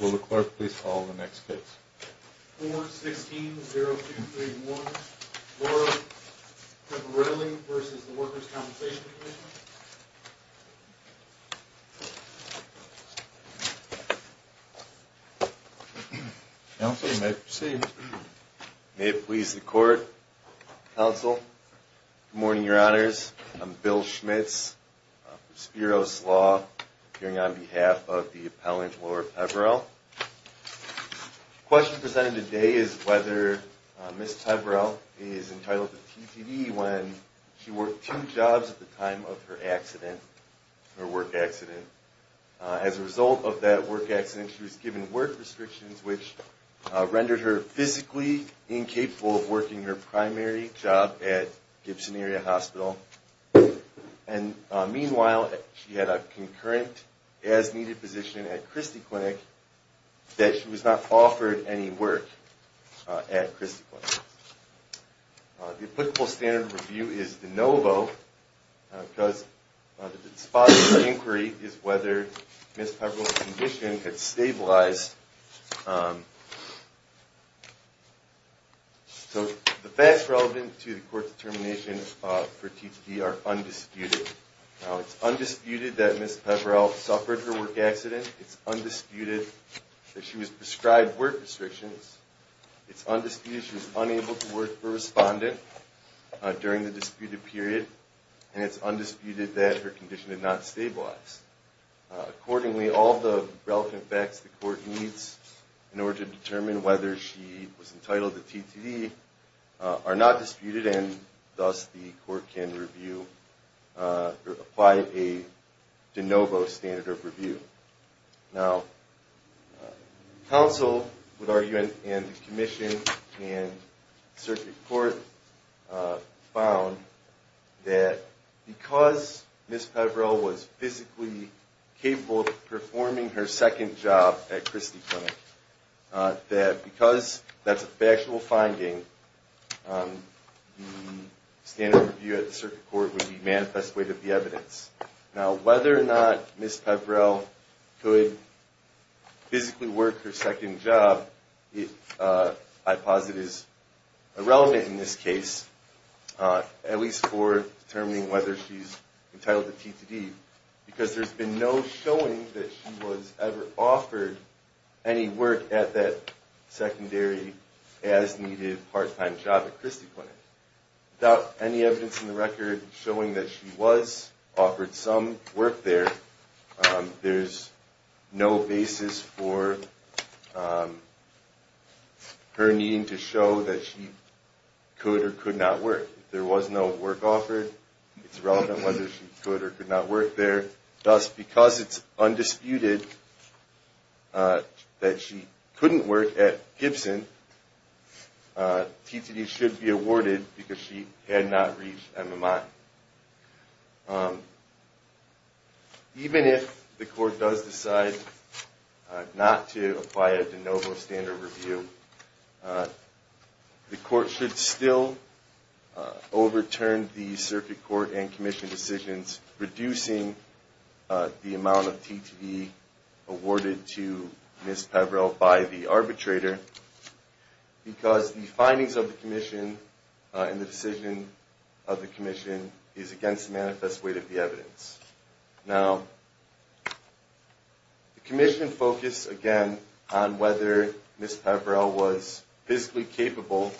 Will the clerk please call the next case? 4-16-0231, Laura Peverelle v. Workers' Compensation Comm'n Counsel, you may proceed. May it please the court, counsel. Good morning, your honors. I'm Bill Schmitz from Spiro's Law, appearing on behalf of the appellant, Laura Peverelle. The question presented today is whether Ms. Peverelle is entitled to TPD when she worked two jobs at the time of her accident, her work accident. As a result of that work accident, she was given work restrictions, which rendered her physically incapable of working her primary job at Gibson Area Hospital. And meanwhile, she had a concurrent as-needed position at Christie Clinic, that she was not offered any work at Christie Clinic. The applicable standard of review is de novo, because the spot of inquiry is whether Ms. Peverelle's condition had stabilized. So the facts relevant to the court's determination for TPD are undisputed. It's undisputed that Ms. Peverelle suffered her work accident. It's undisputed that she was prescribed work restrictions. It's undisputed she was unable to work for a respondent during the disputed period. And it's undisputed that her condition did not stabilize. Accordingly, all the relevant facts the court needs in order to determine whether she was entitled to TPD are not disputed, and thus the court can review or apply a de novo standard of review. Now, counsel would argue, and the commission and circuit court found, that because Ms. Peverelle was physically capable of performing her second job at Christie Clinic, that because that's a factual finding, the standard of review at the circuit court would be manifest way to the evidence. Now, whether or not Ms. Peverelle could physically work her second job, I posit, is irrelevant in this case, at least for determining whether she's entitled to TPD, because there's been no showing that she was ever offered any work at that secondary, as-needed, part-time job at Christie Clinic. Without any evidence in the record showing that she was offered some work there, there's no basis for her needing to show that she could or could not work. If there was no work offered, it's irrelevant whether she could or could not work there. Thus, because it's undisputed that she couldn't work at Gibson, TPD should be awarded because she had not reached MMI. Even if the court does decide not to apply a de novo standard of review, the court should still overturn the circuit court and commission decisions reducing the amount of TPD awarded to Ms. Peverelle by the arbitrator, because the findings of the commission and the decision of the commission is against the manifest way to the evidence. Now, the commission focused, again, on whether Ms. Peverelle was physically capable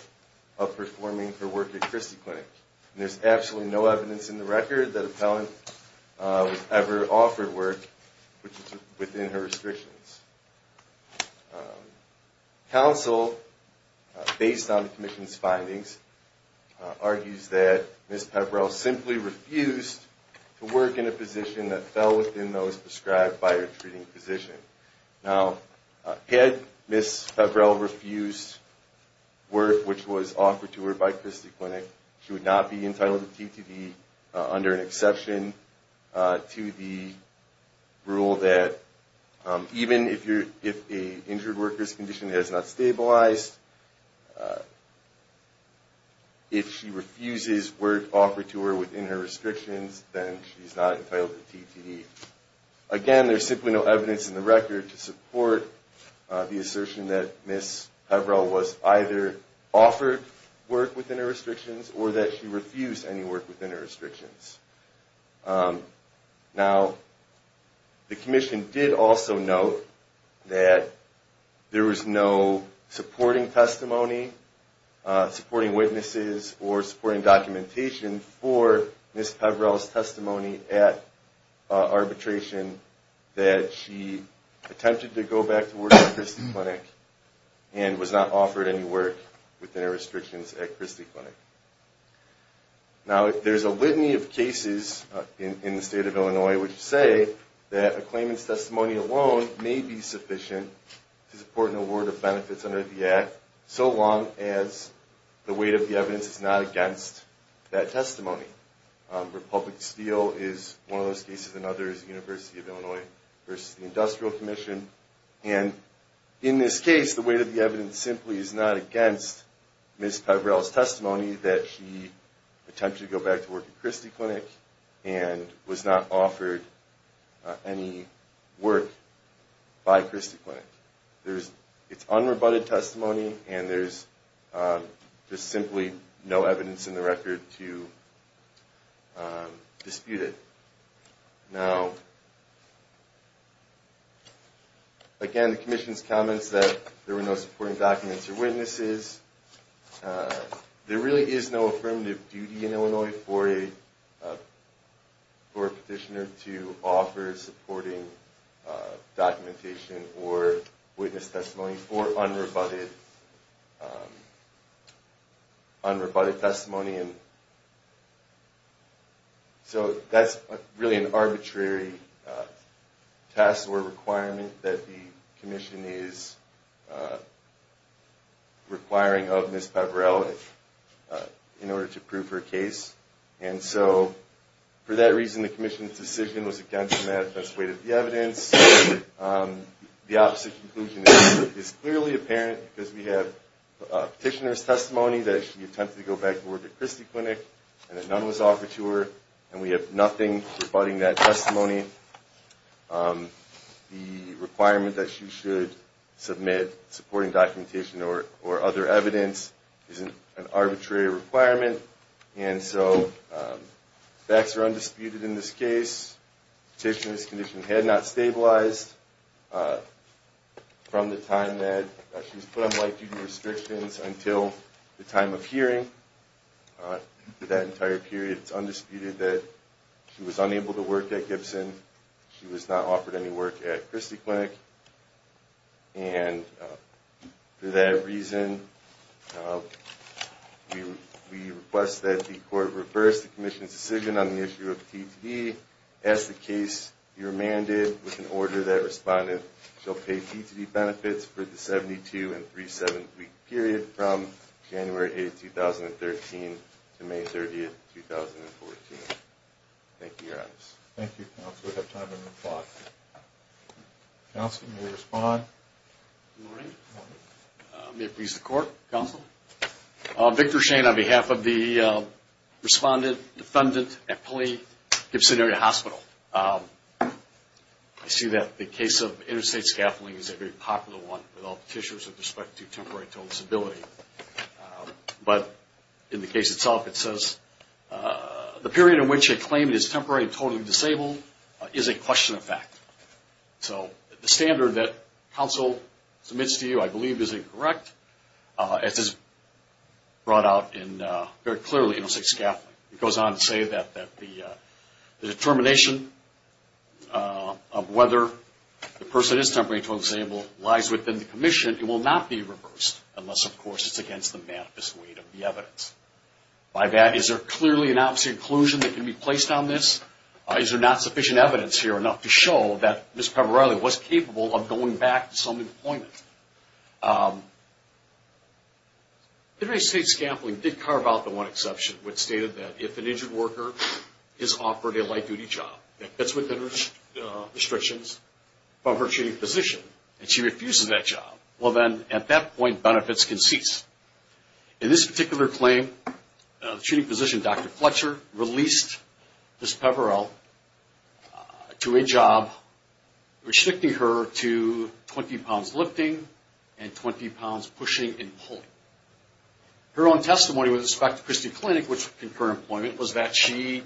of performing her work at Christie Clinic. There's absolutely no evidence in the record that a felon was ever offered work within her restrictions. Counsel, based on the commission's findings, argues that Ms. Peverelle simply refused to work in a position that fell within those prescribed by her treating physician. Now, had Ms. Peverelle refused work which was offered to her by Christie Clinic, she would not be entitled to TPD under an exception to the rule that even if an injured worker's condition has not stabilized, if she refuses work offered to her within her restrictions, then she's not entitled to TPD. Again, there's simply no evidence in the record to support the assertion that Ms. Peverelle was either offered work within her restrictions or that she refused any work within her restrictions. Now, the commission did also note that there was no supporting testimony, supporting witnesses, or supporting documentation for Ms. Peverelle's testimony at arbitration that she attempted to go back to work at Christie Clinic and was not offered any work within her restrictions at Christie Clinic. Now, there's a litany of cases in the state of Illinois which say that a claimant's testimony alone may be sufficient to support an award of benefits under the Act so long as the weight of the evidence is not against that testimony. Republic Steel is one of those cases. Another is the University of Illinois versus the Industrial Commission. And in this case, the weight of the evidence simply is not against Ms. Peverelle's testimony that she attempted to go back to work at Christie Clinic and was not offered any work by Christie Clinic. It's unrebutted testimony and there's just simply no evidence in the record to dispute it. Now, again, the commission's comments that there were no supporting documents or witnesses, there really is no affirmative duty in Illinois for a petitioner to offer supporting documentation or witness testimony for unrebutted testimony. So that's really an arbitrary test or requirement that the commission is requiring of Ms. Peverelle in order to prove her case. And so for that reason, the commission's decision was against the weight of the evidence. The opposite conclusion is clearly apparent because we have a petitioner's testimony that she attempted to go back to work at Christie Clinic and that none was offered to her and we have nothing rebutting that testimony. The requirement that she should submit supporting documentation or other evidence isn't an arbitrary requirement and so facts are undisputed in this case. Petitioner's condition had not stabilized from the time that she was put on white duty restrictions until the time of hearing. For that entire period, it's undisputed that she was unable to work at Gibson. She was not offered any work at Christie Clinic. And for that reason, we request that the court reverse the commission's decision on the issue of TTD. As the case, you're mandated with an order that respondent shall pay TTD benefits for the 72- and 37-week period from January 8, 2013 to May 30, 2014. Thank you, Your Honors. Thank you, Counselor. We have time for one more question. Counsel, you may respond. Good morning. Good morning. May it please the Court, Counsel. Victor Shane on behalf of the respondent, defendant at Pulley-Gibson Area Hospital. I see that the case of interstate scaffolding is a very popular one with all the petitioners with respect to temporary total disability. But in the case itself, it says the period in which a claimant is temporary and totally disabled is a question of fact. So the standard that counsel submits to you, I believe, is incorrect. It is brought out very clearly in interstate scaffolding. It goes on to say that the determination of whether the person is temporary and totally disabled lies within the commission and that it will not be reversed unless, of course, it's against the manifest weight of the evidence. By that, is there clearly an obvious inclusion that can be placed on this? Is there not sufficient evidence here enough to show that Ms. Peverelli was capable of going back to some employment? Interstate scaffolding did carve out the one exception which stated that if an injured worker is offered a light-duty job, that fits within the restrictions of her treating physician, and she refuses that job, well then, at that point, benefits can cease. In this particular claim, the treating physician, Dr. Fletcher, released Ms. Peverelli to a job restricting her to 20 pounds lifting and 20 pounds pushing and pulling. Her own testimony with respect to Christie Clinic, which was concurrent employment, was that she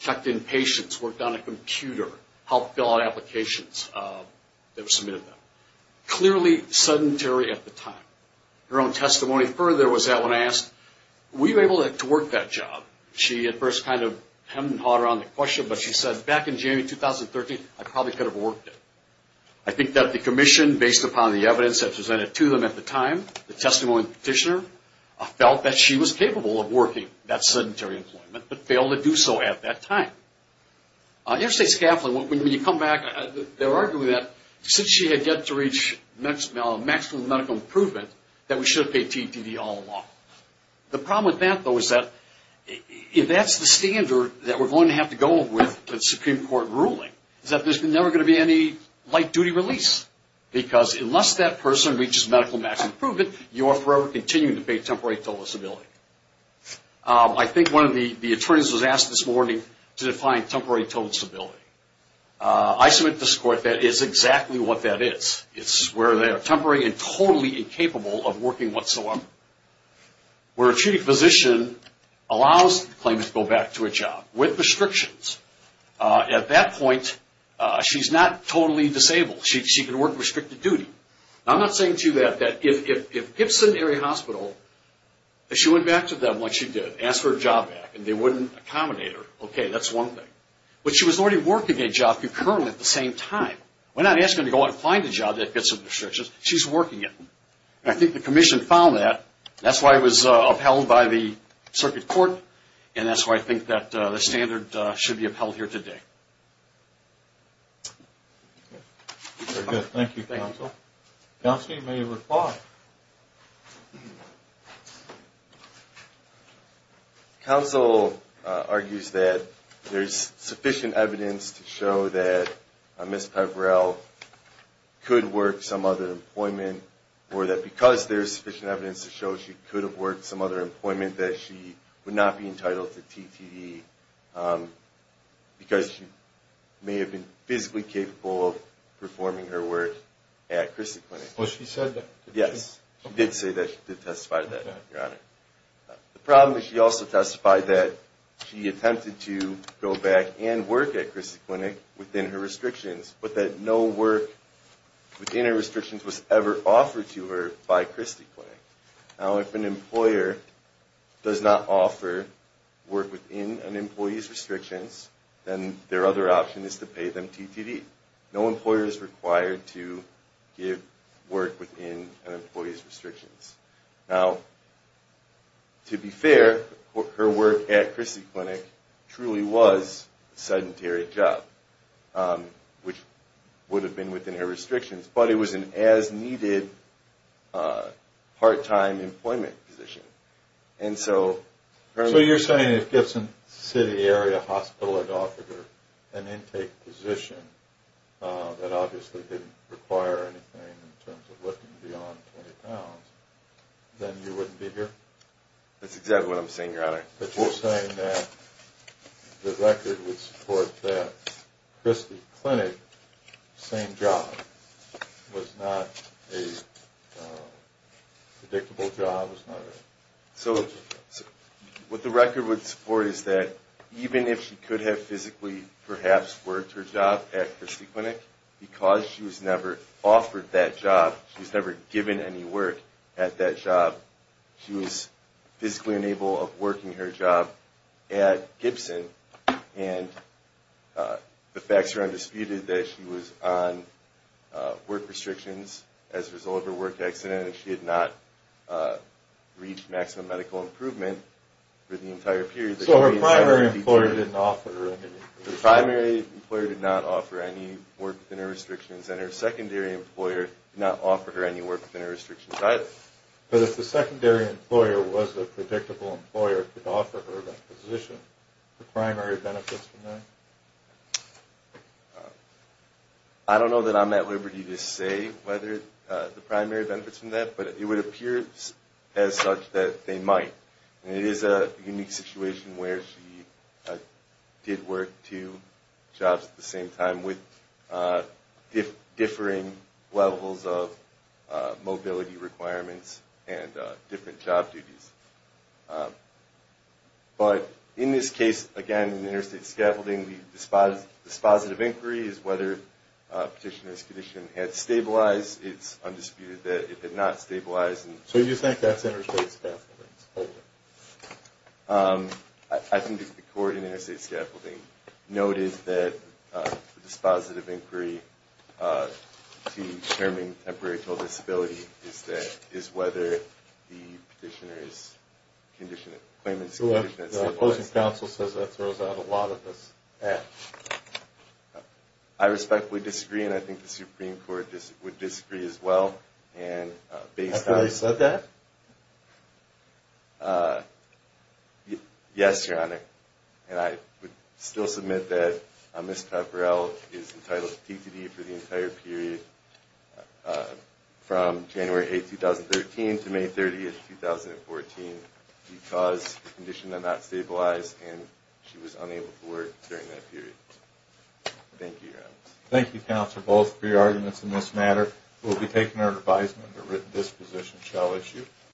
checked in patients, worked on a computer, helped fill out applications that were submitted to them. Clearly sedentary at the time. Her own testimony further was that when asked, were you able to work that job? She at first kind of hemmed and hawed around the question, but she said, back in January 2013, I probably could have worked it. I think that the commission, based upon the evidence that was presented to them at the time, the testimony of the petitioner, felt that she was capable of working that sedentary employment, but failed to do so at that time. Interstate scaffolding, when you come back, they're arguing that since she had yet to reach maximum medical improvement, that we should have paid T&TD all along. The problem with that, though, is that if that's the standard that we're going to have to go with the Supreme Court ruling, is that there's never going to be any light-duty release. Because unless that person reaches medical maximum improvement, you are forever continuing to pay T&TD. I think one of the attorneys was asked this morning to define T&TD. I submit to this court that is exactly what that is. It's where they are temporary and totally incapable of working whatsoever. Where a treating physician allows the claimant to go back to a job with restrictions. At that point, she's not totally disabled. She can work restricted duty. I'm not saying to you that if Gibson Area Hospital, if she went back to them like she did, asked for a job back and they wouldn't accommodate her, okay, that's one thing. But she was already working a job concurrently at the same time. We're not asking her to go out and find a job that fits the restrictions. She's working it. And I think the commission found that. That's why it was upheld by the circuit court. And that's why I think that the standard should be upheld here today. Very good. Thank you, counsel. Counsel, you may reply. Counsel argues that there's sufficient evidence to show that Ms. Peverell could work some other employment or that because there's sufficient evidence to show she could have worked some other employment, that she would not be entitled to TTE because she may have been physically capable of performing her work at Christy Clinic. Well, she said that. Yes, she did say that. She did testify to that, Your Honor. The problem is she also testified that she attempted to go back and work at Christy Clinic within her restrictions, but that no work within her restrictions was ever offered to her by Christy Clinic. Now, if an employer does not offer work within an employee's restrictions, then their other option is to pay them TTE. No employer is required to give work within an employee's restrictions. Now, to be fair, her work at Christy Clinic truly was a sedentary job, which would have been within her restrictions, but it was an as-needed part-time employment position. So you're saying if Gibson City Area Hospital had offered her an intake position that obviously didn't require anything in terms of lifting beyond 20 pounds, then you wouldn't be here? That's exactly what I'm saying, Your Honor. But you're saying that the record would support that Christy Clinic, same job, was not a predictable job? So what the record would support is that even if she could have physically perhaps worked her job at Christy Clinic, because she was never offered that job, she was never given any work at that job, she was physically unable of working her job at Gibson. And the facts are undisputed that she was on work restrictions as a result of her work accident, and she had not reached maximum medical improvement for the entire period. The primary employer did not offer any work within her restrictions, and her secondary employer did not offer her any work within her restrictions either. But if the secondary employer was a predictable employer, could offer her that position, the primary benefits from that? I don't know that I'm at liberty to say whether the primary benefits from that, but it would appear as such that they might. And it is a unique situation where she did work two jobs at the same time with differing levels of mobility requirements and different job duties. But in this case, again, interstate scaffolding, the dispositive inquiry is whether Petitioner's condition had stabilized. It's undisputed that it did not stabilize. So you think that's interstate scaffolding? I think the court in interstate scaffolding noted that the dispositive inquiry to determine temporary total disability is whether the Petitioner's claimant's condition has stabilized. The opposing counsel says that throws out a lot of this. I respectfully disagree, and I think the Supreme Court would disagree as well. Have you already said that? Yes, Your Honor. And I would still submit that Ms. Pepperell is entitled to DTD for the entire period from January 8, 2013 to May 30, 2014 because the condition had not stabilized and she was unable to work during that period. Thank you, Your Honor. Thank you, counsel, both for your arguments in this matter. We'll be taking our advisement that this position shall issue.